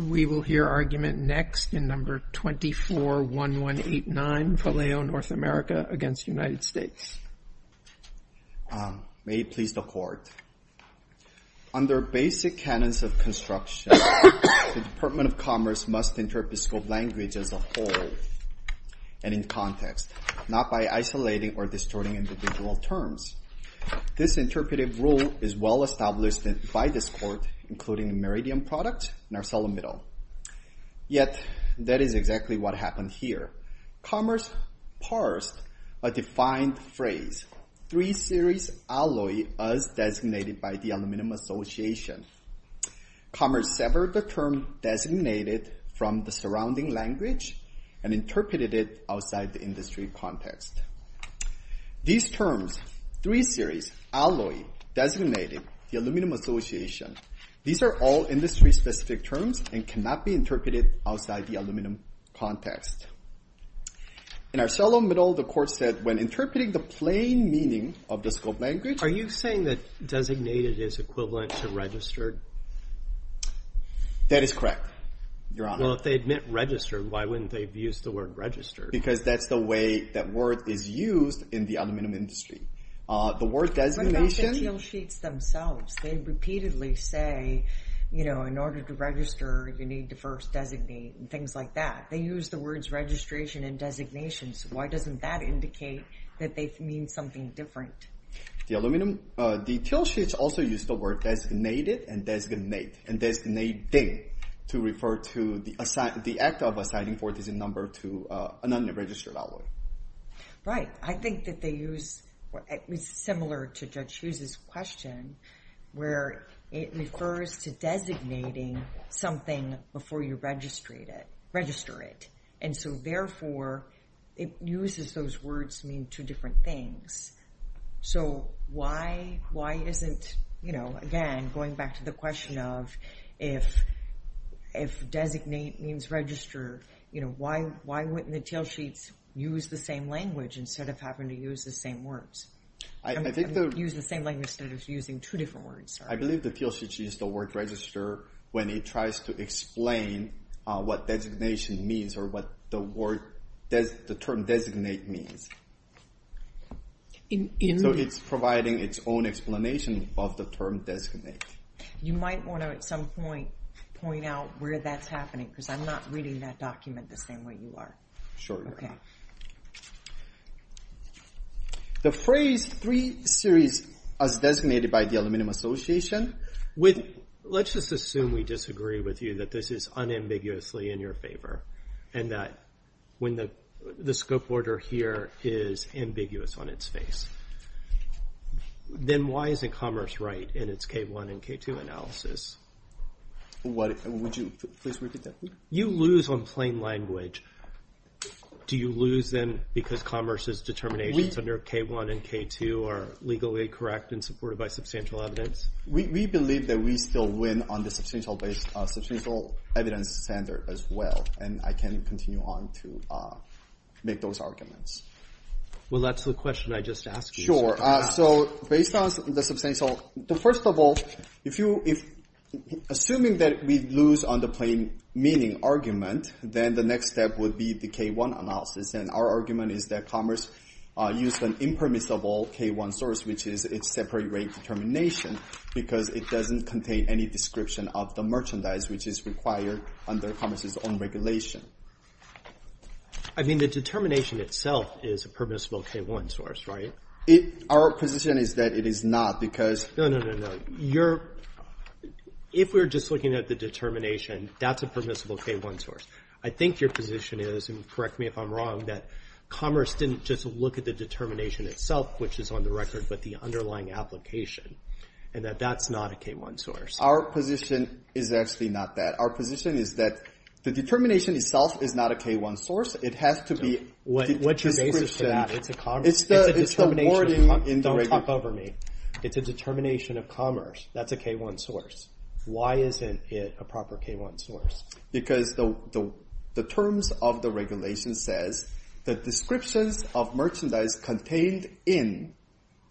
May it please the Court, under basic canons of construction, the Department of Commerce must interpret scope language as a whole and in context, not by isolating or distorting individual terms. This interpretive rule is well established by this Court, including Meridian Products and Arcelo Middle. Yet, that is exactly what happened here. Commerce parsed a defined phrase, three-series alloy as designated by the Aluminum Association. Commerce severed the term designated from the surrounding language and interpreted it outside the industry context. These terms, three-series alloy, designated, the Aluminum Association, these are all industry-specific terms and cannot be interpreted outside the aluminum context. In Arcelo Middle, the Court said, when interpreting the plain meaning of the scope language Are you saying that designated is equivalent to registered? That is correct, Your Honor. Well, if they admit registered, why wouldn't they have used the word registered? Because that's the way that word is used in the aluminum industry. What about the teal sheets themselves? They repeatedly say, you know, in order to register, you need to first designate and things like that. They use the words registration and designation, so why doesn't that indicate that they mean something different? The teal sheets also use the word designated and designating to refer to the act of assigning a number to an unregistered alloy. Right. I think that they use, it's similar to Judge Hughes' question, where it refers to designating something before you register it. And so therefore, it uses those words meaning two different things. So why isn't, you know, again, going back to the question of if designate means register, you know, why wouldn't the teal sheets use the same language instead of having to use the same words? I think they'll use the same language instead of using two different words. I believe the teal sheets use the word register when it tries to explain what designation means or what the word, the term designate means. So it's providing its own explanation of the term designate. You might want to, at some point, point out where that's happening, because I'm not reading that document the same way you are. Sure you are. The phrase 3-series as designated by the Aluminum Association... Let's just assume we disagree with you, that this is unambiguously in your favor, and that when the scope order here is ambiguous on its face. Then why isn't Commerce right in its K-1 and K-2 analysis? Would you please repeat that? You lose on plain language. Do you lose then because Commerce's determinations under K-1 and K-2 are legally correct and supported by substantial evidence? We believe that we still win on the substantial evidence standard as well. And I can continue on to make those arguments. Well, that's the question I just asked you. Based on the substantial... First of all, assuming that we lose on the plain meaning argument, then the next step would be the K-1 analysis. And our argument is that Commerce used an impermissible K-1 source, which is its separate rate determination, because it doesn't contain any description of the merchandise which is required under Commerce's own regulation. I mean, the determination itself is a permissible K-1 source, right? Our position is that it is not, because... No, no, no, no. If we're just looking at the determination, that's a permissible K-1 source. I think your position is, and correct me if I'm wrong, that Commerce didn't just look at the determination itself, which is on the record, but the underlying application, and that that's not a K-1 source. Our position is actually not that. Our position is that the determination itself is not a K-1 source. It has to be... What's your basis for that? It's the wording in the regulation. Don't talk over me. It's a determination of Commerce. That's a K-1 source. Why isn't it a proper K-1 source? Because the terms of the regulation says that descriptions of merchandise contained in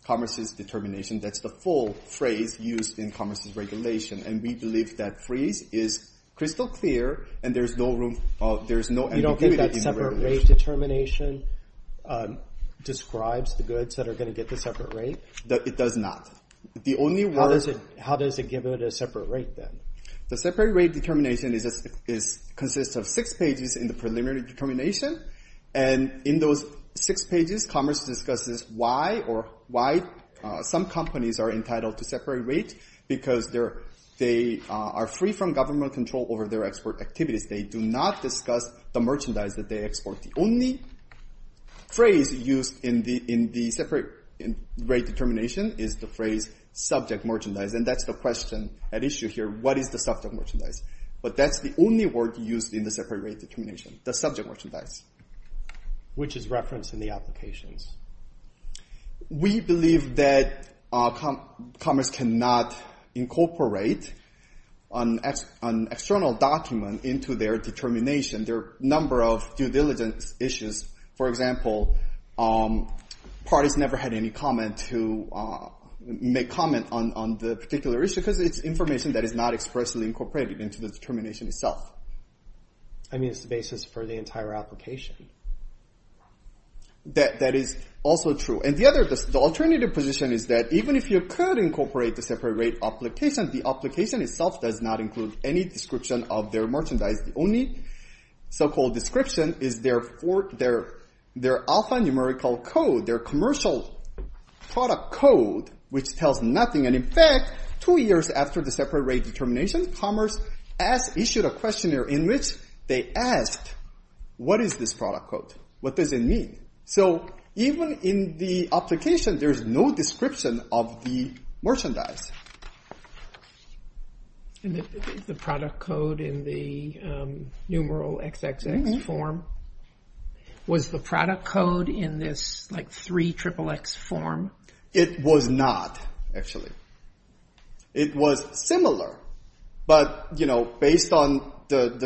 Commerce's determination, that's the full phrase used in Commerce's regulation. And we believe that phrase is crystal clear, and there's no ambiguity in the regulation. You don't think that separate rate determination describes the goods that are going to get the separate rate? It does not. How does it give it a separate rate, then? The separate rate determination consists of six pages in the preliminary determination. And in those six pages, Commerce discusses why some companies are entitled to separate rates, because they are free from government control over their export activities. They do not discuss the merchandise that they export. The only phrase used in the separate rate determination is the phrase subject merchandise. And that's the question at issue here. What is the subject merchandise? But that's the only word used in the separate rate determination, the subject merchandise. Which is referenced in the applications? We believe that Commerce cannot incorporate an external document into their determination. There are a number of due diligence issues. For example, parties never had any comment to make comment on the particular issue, because it's information that is not expressly incorporated into the determination itself. I mean, it's the basis for the entire application. That is also true. And the alternative position is that even if you could incorporate the separate rate application, the application itself does not include any description of their merchandise. The only so-called description is their alphanumerical code, their commercial product code, which tells nothing. And in fact, two years after the separate rate determination, Commerce has issued a questionnaire in which they asked, what is this product code? What does it mean? So even in the application there's no description of the merchandise. And the product code in the numeral XXX form, was the product code in this like three triple X form? It was not, actually. It was similar. But based on the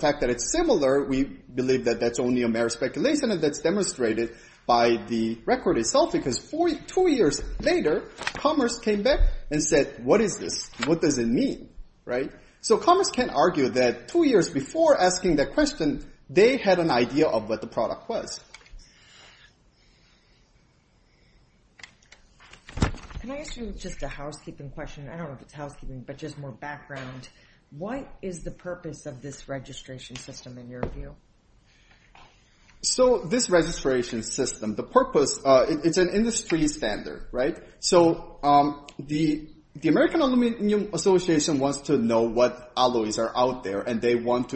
fact that it's similar, we believe that that's only a mere speculation and that's demonstrated by the record itself because two years later, Commerce came back and said, what is this? What does it mean? So Commerce can argue that two years before asking that question they had an idea of what the product was. Can I ask you just a housekeeping question? I don't know if it's housekeeping, but just more background. What is the purpose of this registration system in your view? So this registration system, the purpose, it's an industry standard, right? So the American Aluminum Association wants to know what alloys are out there and they want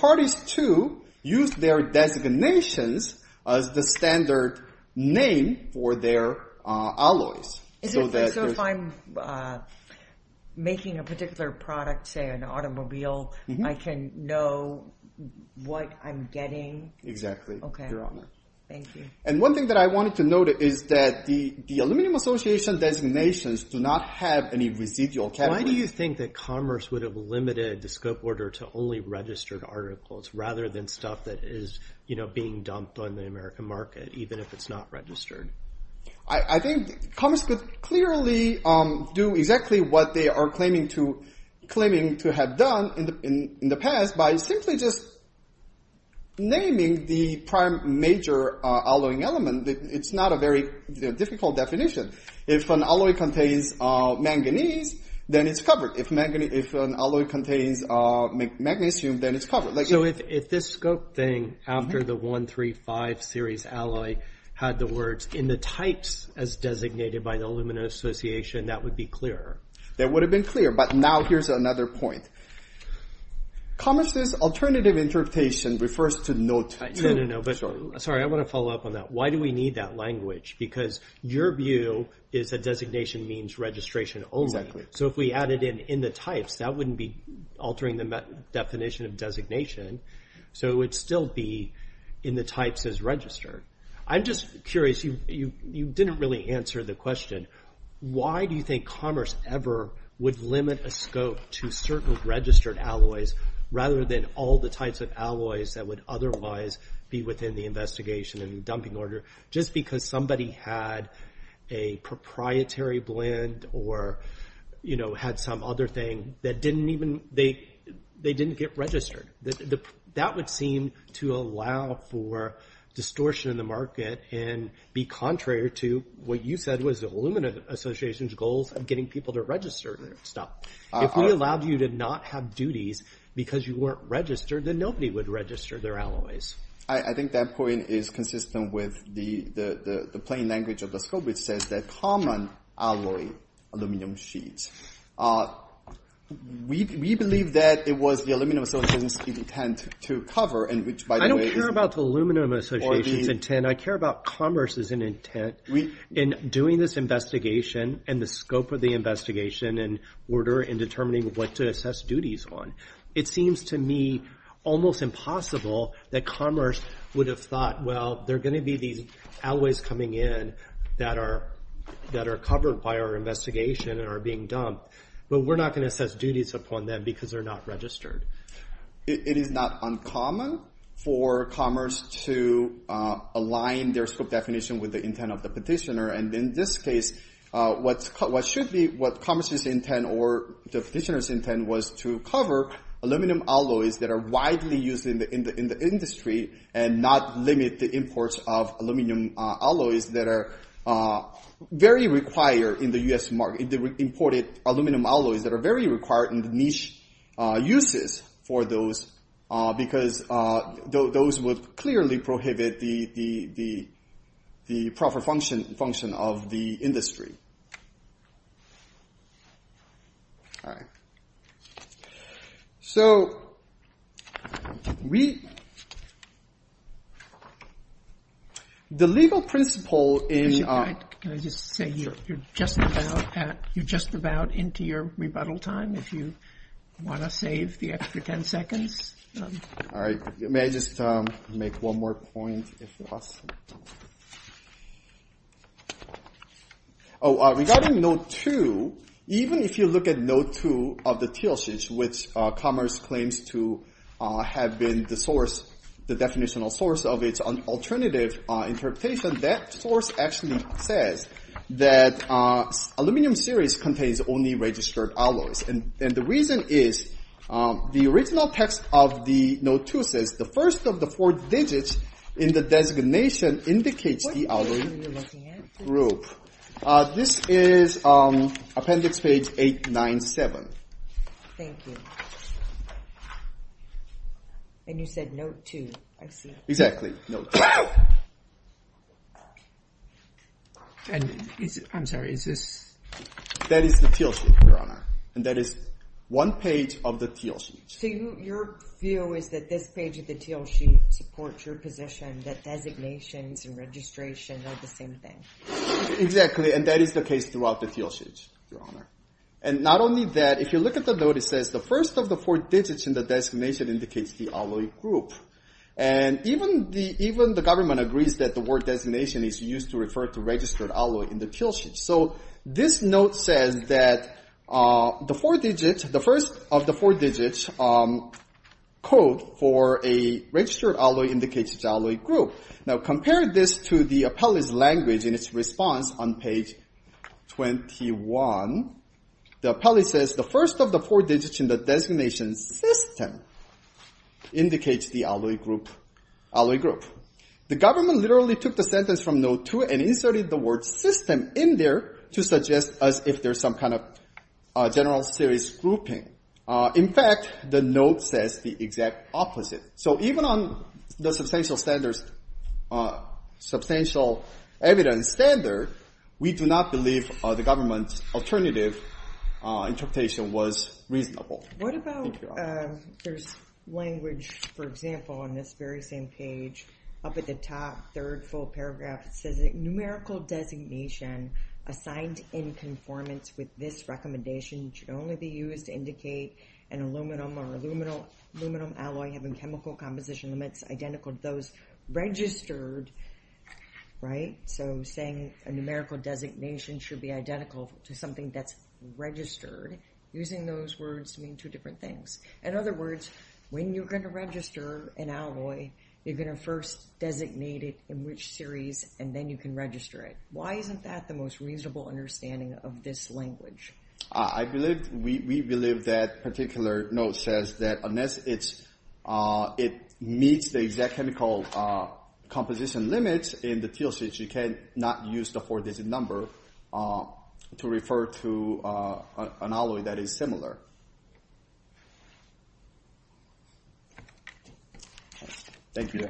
parties to use their designations as the standard name for their alloys. So if I'm making a particular product, say an automobile, I can know what I'm getting? Exactly, Your Honor. Thank you. And one thing that I wanted to note is that the Aluminum Association designations do not have any residual categories. Why do you think that Commerce would have limited the scope order to only registered articles rather than stuff that is being dumped on the American market even if it's not registered? I think Commerce could clearly do exactly what they are claiming to have done in the past by simply just naming the prime major alloying element. It's not a very difficult definition. If an alloy contains manganese then it's covered. If an alloy contains magnesium then it's covered. So if this scope thing after the 135 series alloy had the words in the types as designated by the Aluminum Association that would be clearer? That would have been clearer but now here's another point. Commerce's alternative interpretation refers to notes. Sorry, I want to follow up on that. Why do we need that language? Because your view is that it's altering the definition of designation so it would still be in the types as registered. I'm just curious. You didn't really answer the question. Why do you think Commerce ever would limit a scope to certain registered alloys rather than all the types of alloys that would otherwise be within the investigation and dumping order just because somebody had a proprietary blend or had some other thing that didn't get registered? That would seem to allow for distortion in the market and be contrary to what you said was the Aluminum Association's goal of getting people to register their stuff. If we allowed you to not have duties because you weren't registered then nobody would register their alloys. I think that point is consistent with the plain language of the scope which says that common alloy aluminum sheets We believe that it was the Aluminum Association's intent to cover I don't care about the Aluminum Association's intent. I care about Commerce's intent in doing this investigation and the scope of the investigation and determining what to assess duties on. It seems to me almost impossible that Commerce would have thought well, there are going to be these alloys coming in that are covered by our investigation and are being dumped but we're not going to assess duties upon them because they're not registered. It is not uncommon for Commerce to align their scope definition with the intent of the petitioner and in this case what should be Commerce's intent or the petitioner's intent was to cover aluminum alloys that are widely used in the industry and not limit the imports of aluminum alloys that are very required in the US market. Imported aluminum alloys that are very required in the niche uses for those because those would clearly prohibit the proper function of the All right. So we the legal principle in Can I just say you're just about into your rebuttal time if you want to save the extra ten seconds. May I just make one more point if you ask Regarding Node 2 even if you look at Node 2 of the TLSH which Commerce claims to have been the source, the definitional source of its alternative interpretation, that source actually says that aluminum series contains only registered alloys and the reason is the original text of the Node 2 says the first of the four digits in the designation indicates the aluminum group. This is appendix page 897. Thank you. And you said Node 2. Exactly. I'm sorry, is this That is the TLSH, Your Honor. And that is one page of the TLSH. So your view is that this page of the TLSH supports your position that designations and registration are the same thing. Exactly, and that is the case throughout the TLSH, Your Honor. And not only that, if you look at the note, it says the first of the four digits in the designation indicates the alloy group. And even the government agrees that the word designation is used to refer to registered alloy in the TLSH. So this note says that the four digits, the first of the four digits code for a registered alloy indicates the alloy group. Now compare this to the appellee's language in its response on page 21. The appellee says the first of the four digits in the designation system indicates the alloy group. The government literally took the sentence from Node 2 and inserted the word system in there to suggest as if there's some kind of general series grouping. In fact, the note says the exact opposite. So even on the substantial standards, substantial evidence standard, we do not believe the government's alternative interpretation was reasonable. What about, there's language, for example, on this very same page, up at the top third full paragraph, it says numerical designation assigned in conformance with this recommendation should only be used to indicate an aluminum or aluminum alloy having chemical composition limits identical to those registered. Right? So saying a numerical designation should be identical to something that's registered, using those words mean two different things. In other words, when you're going to register an alloy, you're going to first designate it in which series and then you can register it. Why isn't that the most reasonable understanding of this language? I believe, we believe that particular note says that unless it's, it meets the exact chemical composition limits in the teal sheets, you cannot use the four-digit number to refer to an alloy that is similar. Thank you.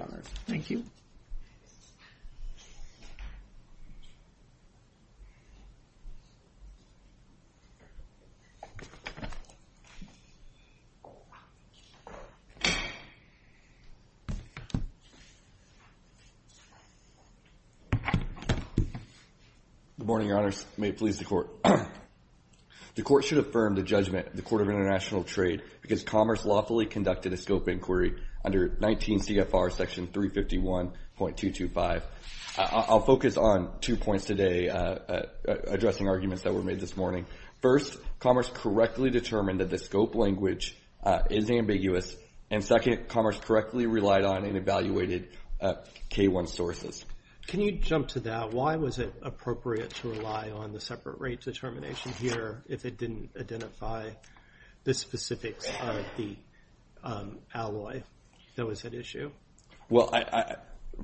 Good morning, Your Honors. May it please the Court. The Court should affirm the judgment of the Court of International Trade because Commerce lawfully conducted a scope inquiry under 19 CFR section 351.225. I'll focus on two points today, addressing arguments that were made this morning. First, Commerce correctly determined that the scope language is ambiguous and second, Commerce correctly relied on and evaluated K1 sources. Can you jump to that? Why was it appropriate to rely on the separate rate determination here if it didn't identify the specifics of the alloy that was at issue? Well,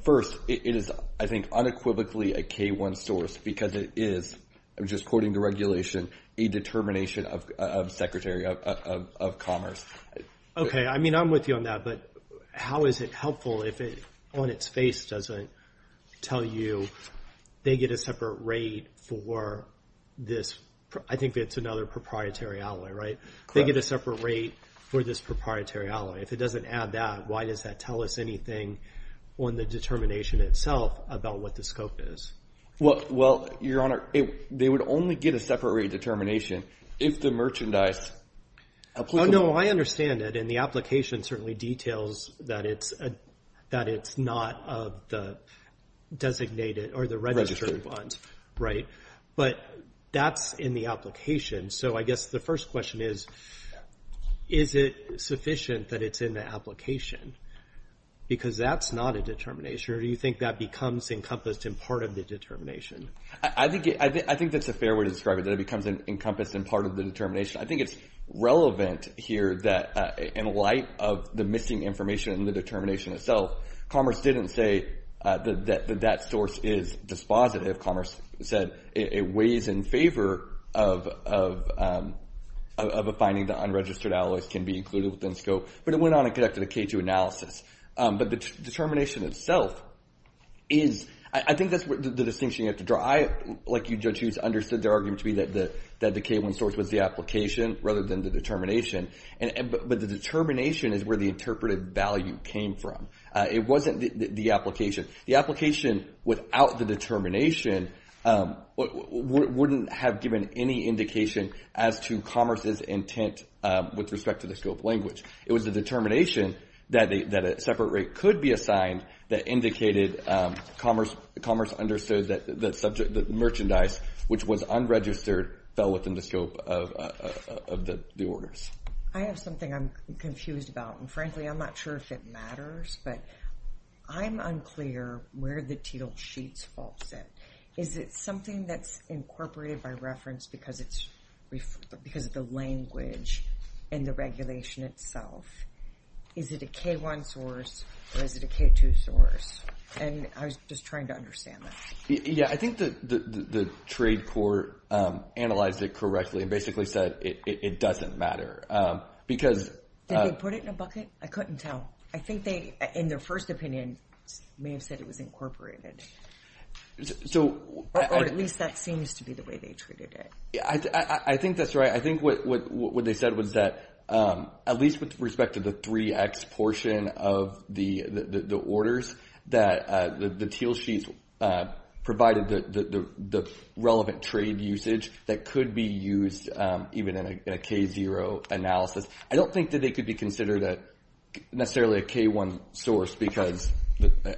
first, it is I think unequivocally a K1 source because it is, I'm just quoting the regulation, a determination of Secretary of Commerce. Okay, I mean, I'm with you on that, but how is it helpful if it, on its face, doesn't tell you they get a separate rate for this, I think it's another proprietary alloy, right? They get a separate rate for this proprietary alloy. If it doesn't add that, why does that tell us anything on the determination itself about what the scope is? Well, Your Honor, they would only get a separate rate determination if the merchandise applicable. Oh, no, I understand it, and the application certainly details that it's not of the designated or the registered bonds, right? But that's in the application, so I guess the first question is, is it sufficient that it's in the application? Because that's not a determination, or do you think that becomes encompassed in part of the determination? I think that's a fair way to describe it, that it becomes encompassed in part of the determination. I think it's relevant here that in light of the missing information in the determination itself, Commerce didn't say that that source is dispositive. Commerce said it weighs in favor of a finding that unregistered alloys can be included within scope, but it went on and conducted a K2 analysis. But the determination itself is, I think that's the distinction you have to draw. I, like you Judge Hughes, understood their argument to be that the K1 source was the application rather than the determination, but the determination is where the interpreted value came from. It wasn't the application. The application without the determination wouldn't have given any indication as to Commerce's intent with respect to the scope language. It was the determination that a separate rate could be assigned that indicated Commerce understood that the merchandise which was unregistered fell within the scope of the orders. I have something I'm confused about, and frankly I'm not sure if it matters, but I'm unclear where the sheet's fault is. Is it something that's incorporated by reference because it's the language and the regulation itself? Is it a K1 source, or is it a K2 source? I was just trying to understand that. Yeah, I think the trade court analyzed it correctly and basically said it doesn't matter. Did they put it in a bucket? I couldn't tell. I think they, in their first opinion, may have said it was incorporated. Or at least that seems to be the way they treated it. I think that's right. I think what they said was that at least with respect to the 3x portion of the orders, that the teal sheets provided the relevant trade usage that could be used even in a K0 analysis. I don't think that they could be considered necessarily a K1 source because,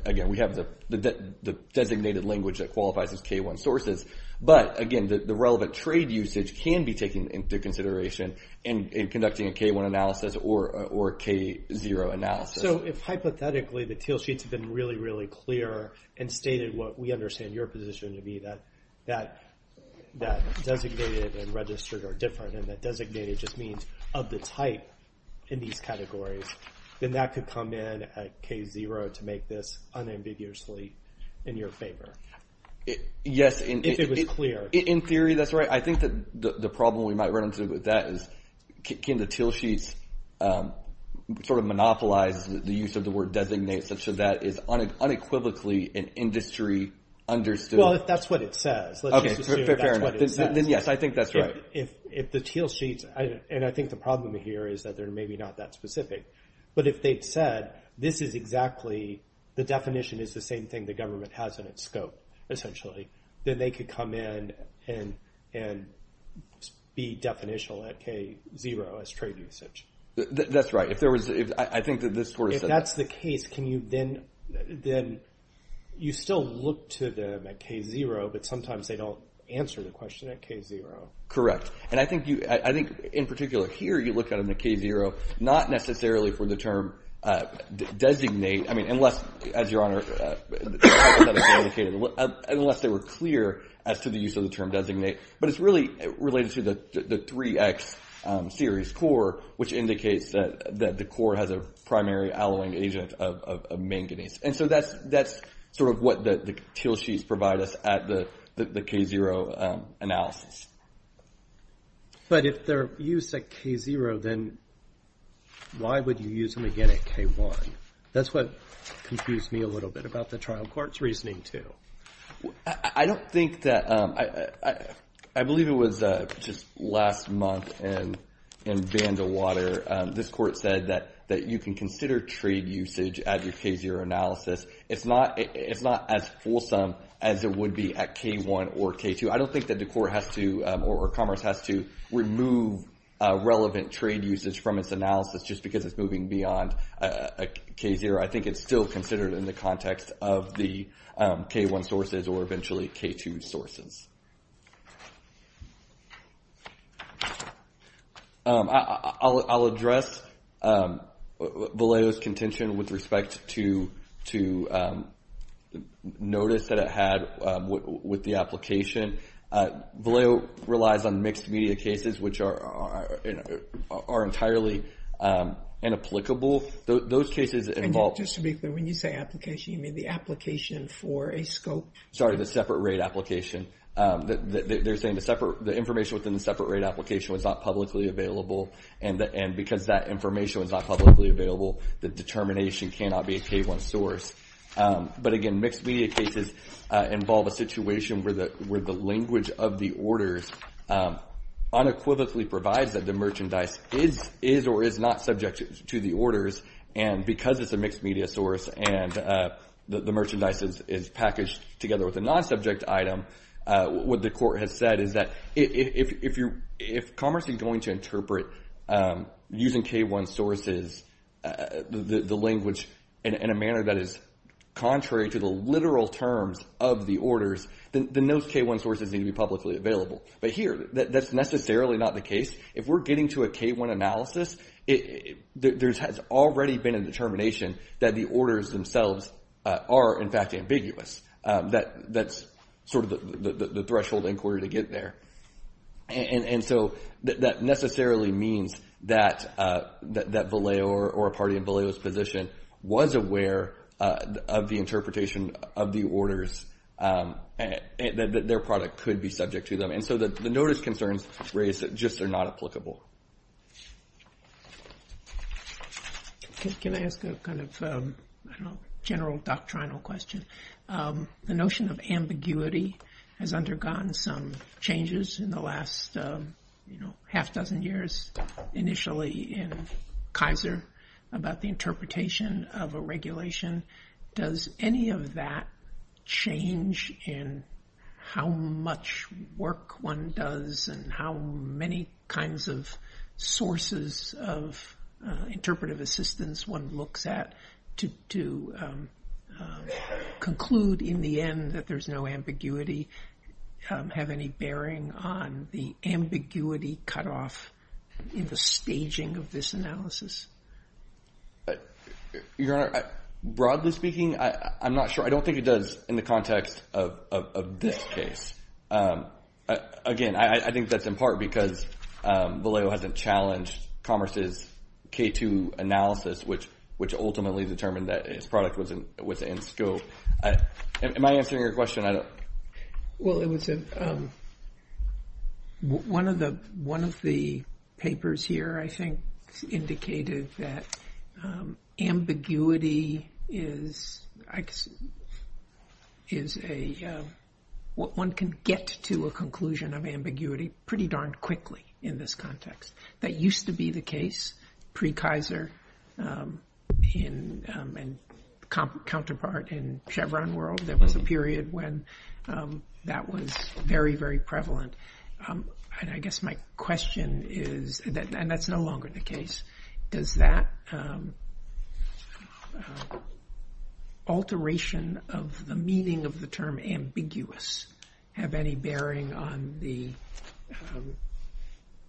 again, we have the designated language that qualifies as K1 sources. But, again, the relevant trade usage can be taken into consideration in conducting a K1 analysis or a K0 analysis. So if, hypothetically, the teal sheets have been really, really clear and stated what we understand your position to be, that designated and registered are different, and that designated just means of the type in these categories, then that could come in at K0 to make this unambiguously in your favor. If it was clear. In theory, that's right. I think that the problem we might run into with that is can the teal sheets sort of monopolize the use of the word designate such that is unequivocally an industry understood. Well, if that's what it says, let's just assume that's what it says. Then, yes, I think that's right. If the teal sheets, and I think the problem here is that they're maybe not that specific. But if they've said, this is exactly, the definition is the same thing the government has in its scope, essentially, then they could come in and be definitional at K0 as trade usage. That's right. I think that this sort of says that. If that's the case, can you then you still look to them at K0, but sometimes they don't answer the question at K0. Correct. And I think in particular here, you look at them at K0 not necessarily for the term designate, I mean, unless, as your honor, unless they were clear as to the use of the term designate. But it's really related to the 3X series core, which indicates that the core has a primary alloying agent of manganese. And so that's sort of what the teal sheets provide us at the K0 analysis. But if they're used at K0, then why would you use them again at K1? That's what confused me a little bit about the trial court's reasoning too. I don't think that, I believe it was just last month in Vandalwater, this court said that you can consider trade usage at your K0 analysis. It's not as fulsome as it would be at K1 or K2. I don't think that the court has to or Commerce has to remove relevant trade usage from its analysis just because it's moving beyond K0. I think it's still considered in the context of the K1 sources or eventually K2 sources. I'll address Vallejo's contention with respect to notice that had with the application. Vallejo relies on mixed media cases which are entirely inapplicable. Those cases involve... When you say application, you mean the application for a scope? Sorry, the separate rate application. They're saying the information within the separate rate application was not publicly available and because that information was not publicly available, the determination cannot be a K1 source. But again, mixed media cases involve a situation where the language of the orders unequivocally provides that the merchandise is or is not subject to the orders and because it's a mixed media source and the merchandise is packaged together with a non-subject item, what the court has said is that if Commerce is going to interpret using K1 sources, the contrary to the literal terms of the orders, then those K1 sources need to be publicly available. But here, that's necessarily not the case. If we're getting to a K1 analysis, there has already been a determination that the orders themselves are in fact ambiguous. That's sort of the threshold inquiry to get there. And so that necessarily means that Vallejo or a party in Vallejo's position was aware of the interpretation of the orders, that their product could be subject to them. And so the notice concerns raised just are not applicable. Can I ask a kind of general doctrinal question? The notion of ambiguity has undergone some changes in the last half dozen years initially in the interpretation of a regulation. Does any of that change in how much work one does and how many kinds of sources of interpretive assistance one looks at to conclude in the end that there's no ambiguity have any bearing on the ambiguity cut off in the staging of this analysis? Your Honor, broadly speaking, I'm not sure. I don't think it does in the context of this case. Again, I think that's in part because Vallejo hasn't challenged Commerce's K2 analysis, which ultimately determined that its product was in scope. Am I answering your question? Well, one of the papers here, I think, indicated that ambiguity is a one can get to a conclusion of ambiguity pretty darn quickly in this context. That used to be the case pre-Kaiser and counterpart in Chevron world. There was a period when that was very, very prevalent. I guess my question is, and that's no longer the case, does that alteration of the meaning of the term ambiguous have any bearing on the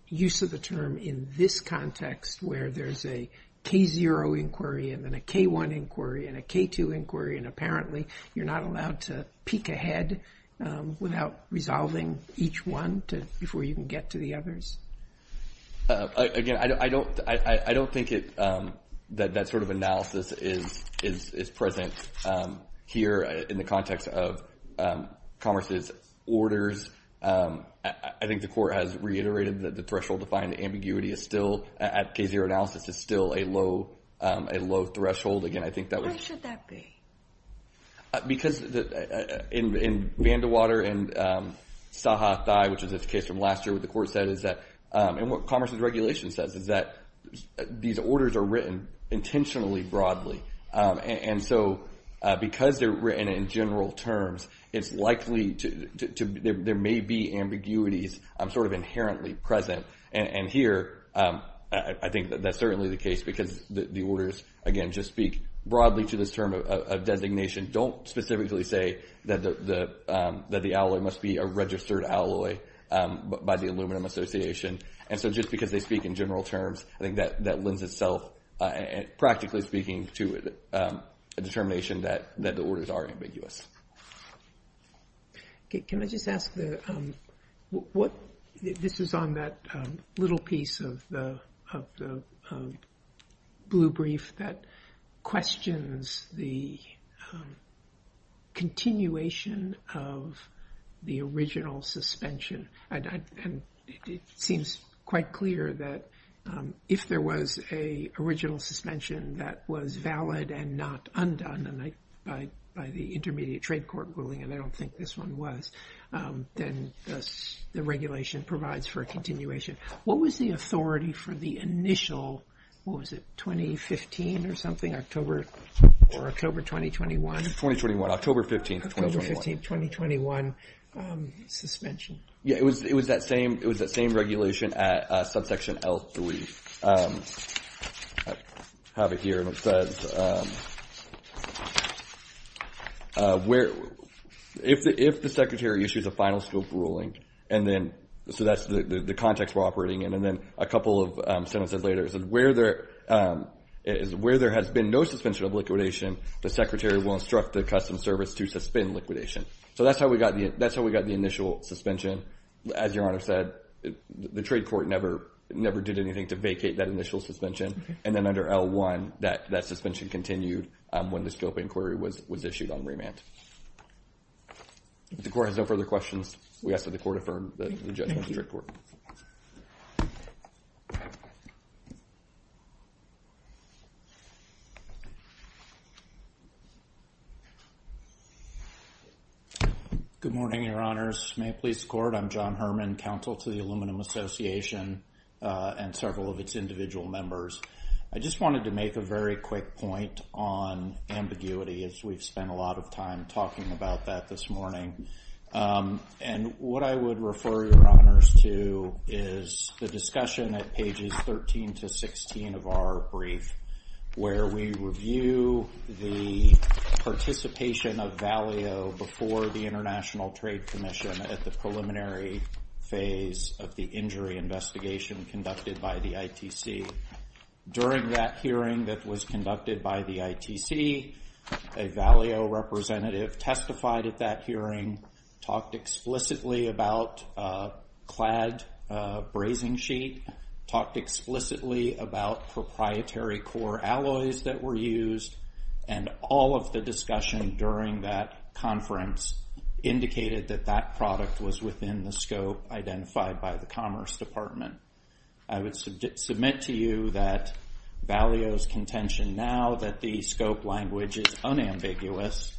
use of the term in this context where there's a K0 inquiry and then a K1 inquiry and a K2 inquiry and apparently you're not allowed to peek ahead without resolving each one before you can get to the others? Again, I don't think that sort of analysis is present here in the context of Commerce's orders. I think the Court has reiterated that the threshold to find ambiguity is still, at K0 analysis, is still a low threshold. Again, I think that would Why should that be? Because in Vandewater and Saha Thai, which is a case from last year, what the Court said is that and what Commerce's regulation says is that these orders are written intentionally broadly and so because they're written in general terms, it's likely there may be ambiguities sort of inherently present and here I think that's certainly the case because the orders, again, just speak broadly to this term of designation, don't specifically say that the alloy must be a registered alloy by the Aluminum Association and so just because they speak in general terms I think that lends itself practically speaking to a determination that the orders are ambiguous. Can I just ask what this is on that little piece of the blue brief that questions the continuation of the original suspension and it seems quite clear that if there was a original suspension that was valid and not undone by the Intermediate Trade Court ruling, and I don't think this one was, then the regulation provides for a continuation. What was the authority for the initial, what was it, 2015 or something, October or October 2021? October 15, 2021. 2021 suspension. Yeah, it was that same regulation at subsection L3. I have it here and it where if the Secretary issues a final scope ruling and then, so that's the context we're operating in, and then a couple of sentences later, it says where there has been no suspension of liquidation, the Secretary will instruct the Customs Service to suspend liquidation. So that's how we got the initial suspension. As Your Honor said, the Trade Court never did anything to vacate that initial suspension, and then under L1 that suspension continued when the scope inquiry was issued on remand. If the Court has no further questions, we ask that the Court affirm that the Judge must report. Good morning, Your Honors. May it please the Court, I'm John Herman, Counsel to the Aluminum Association and several of its individual members. I just wanted to make a very quick point on ambiguity, as we've spent a lot of time talking about that this morning. And what I would refer Your Honors to is the discussion at pages 13 to 16 of our brief, where we review the participation of Valeo before the International Trade Commission at the preliminary phase of the injury investigation conducted by the ITC. During that hearing that was conducted by the ITC, a Valeo representative testified at that hearing, talked explicitly about a clad brazing sheet, talked explicitly about proprietary core alloys that were used, and all of the discussion during that conference indicated that that product was within the scope identified by the Commerce Department. I would submit to you that Valeo's contention now that the scope language is unambiguous,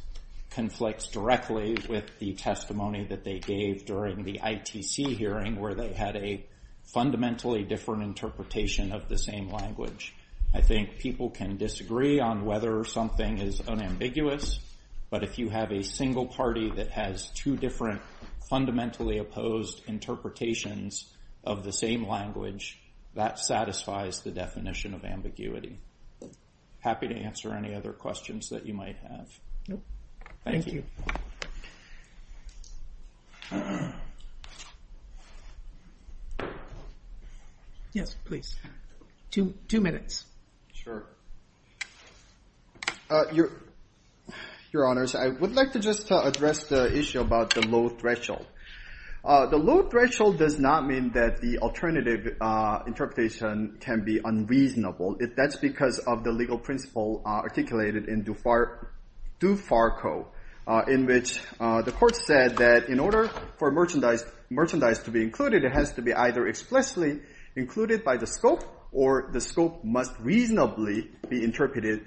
conflicts directly with the testimony that they gave during the ITC hearing, where they had a fundamentally different interpretation of the same language. I think people can disagree on whether something is unambiguous, but if you have a single party that has two different fundamentally opposed interpretations of the same language, that satisfies the definition of ambiguity. Happy to answer any other questions that you might have. Thank you. Yes, please. Two minutes. Your honors, I would like to just address the issue about the low threshold. The low threshold does not mean that the alternative interpretation can be unreasonable. That's because of the legal principle articulated in DuFarco, in which the court said that in order for merchandise to be included, it has to be either explicitly included by the scope or the scope must reasonably be interpreted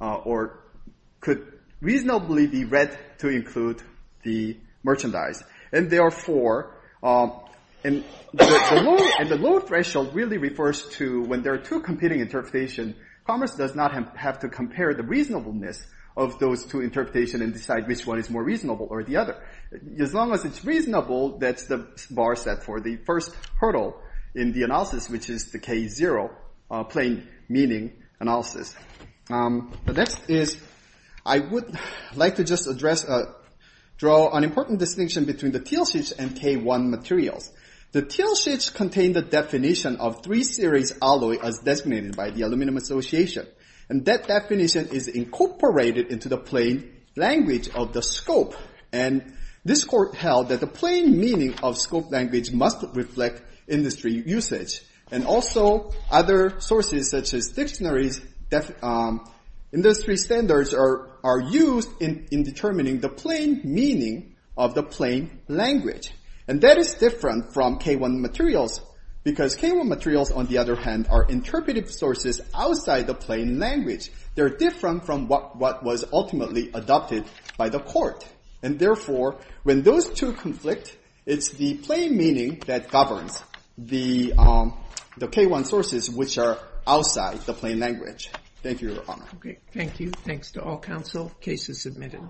or could reasonably be read to include the merchandise. And therefore, the low threshold really refers to when there are two competing interpretations, commerce does not have to compare the reasonableness of those two interpretations and decide which one is more reasonable or the other. As long as it's reasonable, that's the bar set for the first hurdle in the analysis, which is the K-0 plain meaning analysis. The next is I would like to just address draw an important distinction between the Tielschitz and K-1 materials. The Tielschitz contains the definition of 3-series alloy as designated by the Aluminum Association. And that definition is incorporated into the plain language of the scope. And this court held that the plain meaning of scope language must reflect industry usage. And also, other sources such as dictionaries, industry standards are used in determining the plain meaning of the plain language. And that is different from K-1 materials because K-1 materials, on the other hand, are interpretive sources outside the plain language. They're different from what was ultimately adopted by the court. And therefore, when those two conflict, it's the plain meaning that governs the K-1 sources which are outside the plain language. Thank you, Your Honor. Okay, thank you. Thanks to all counsel. Case is submitted.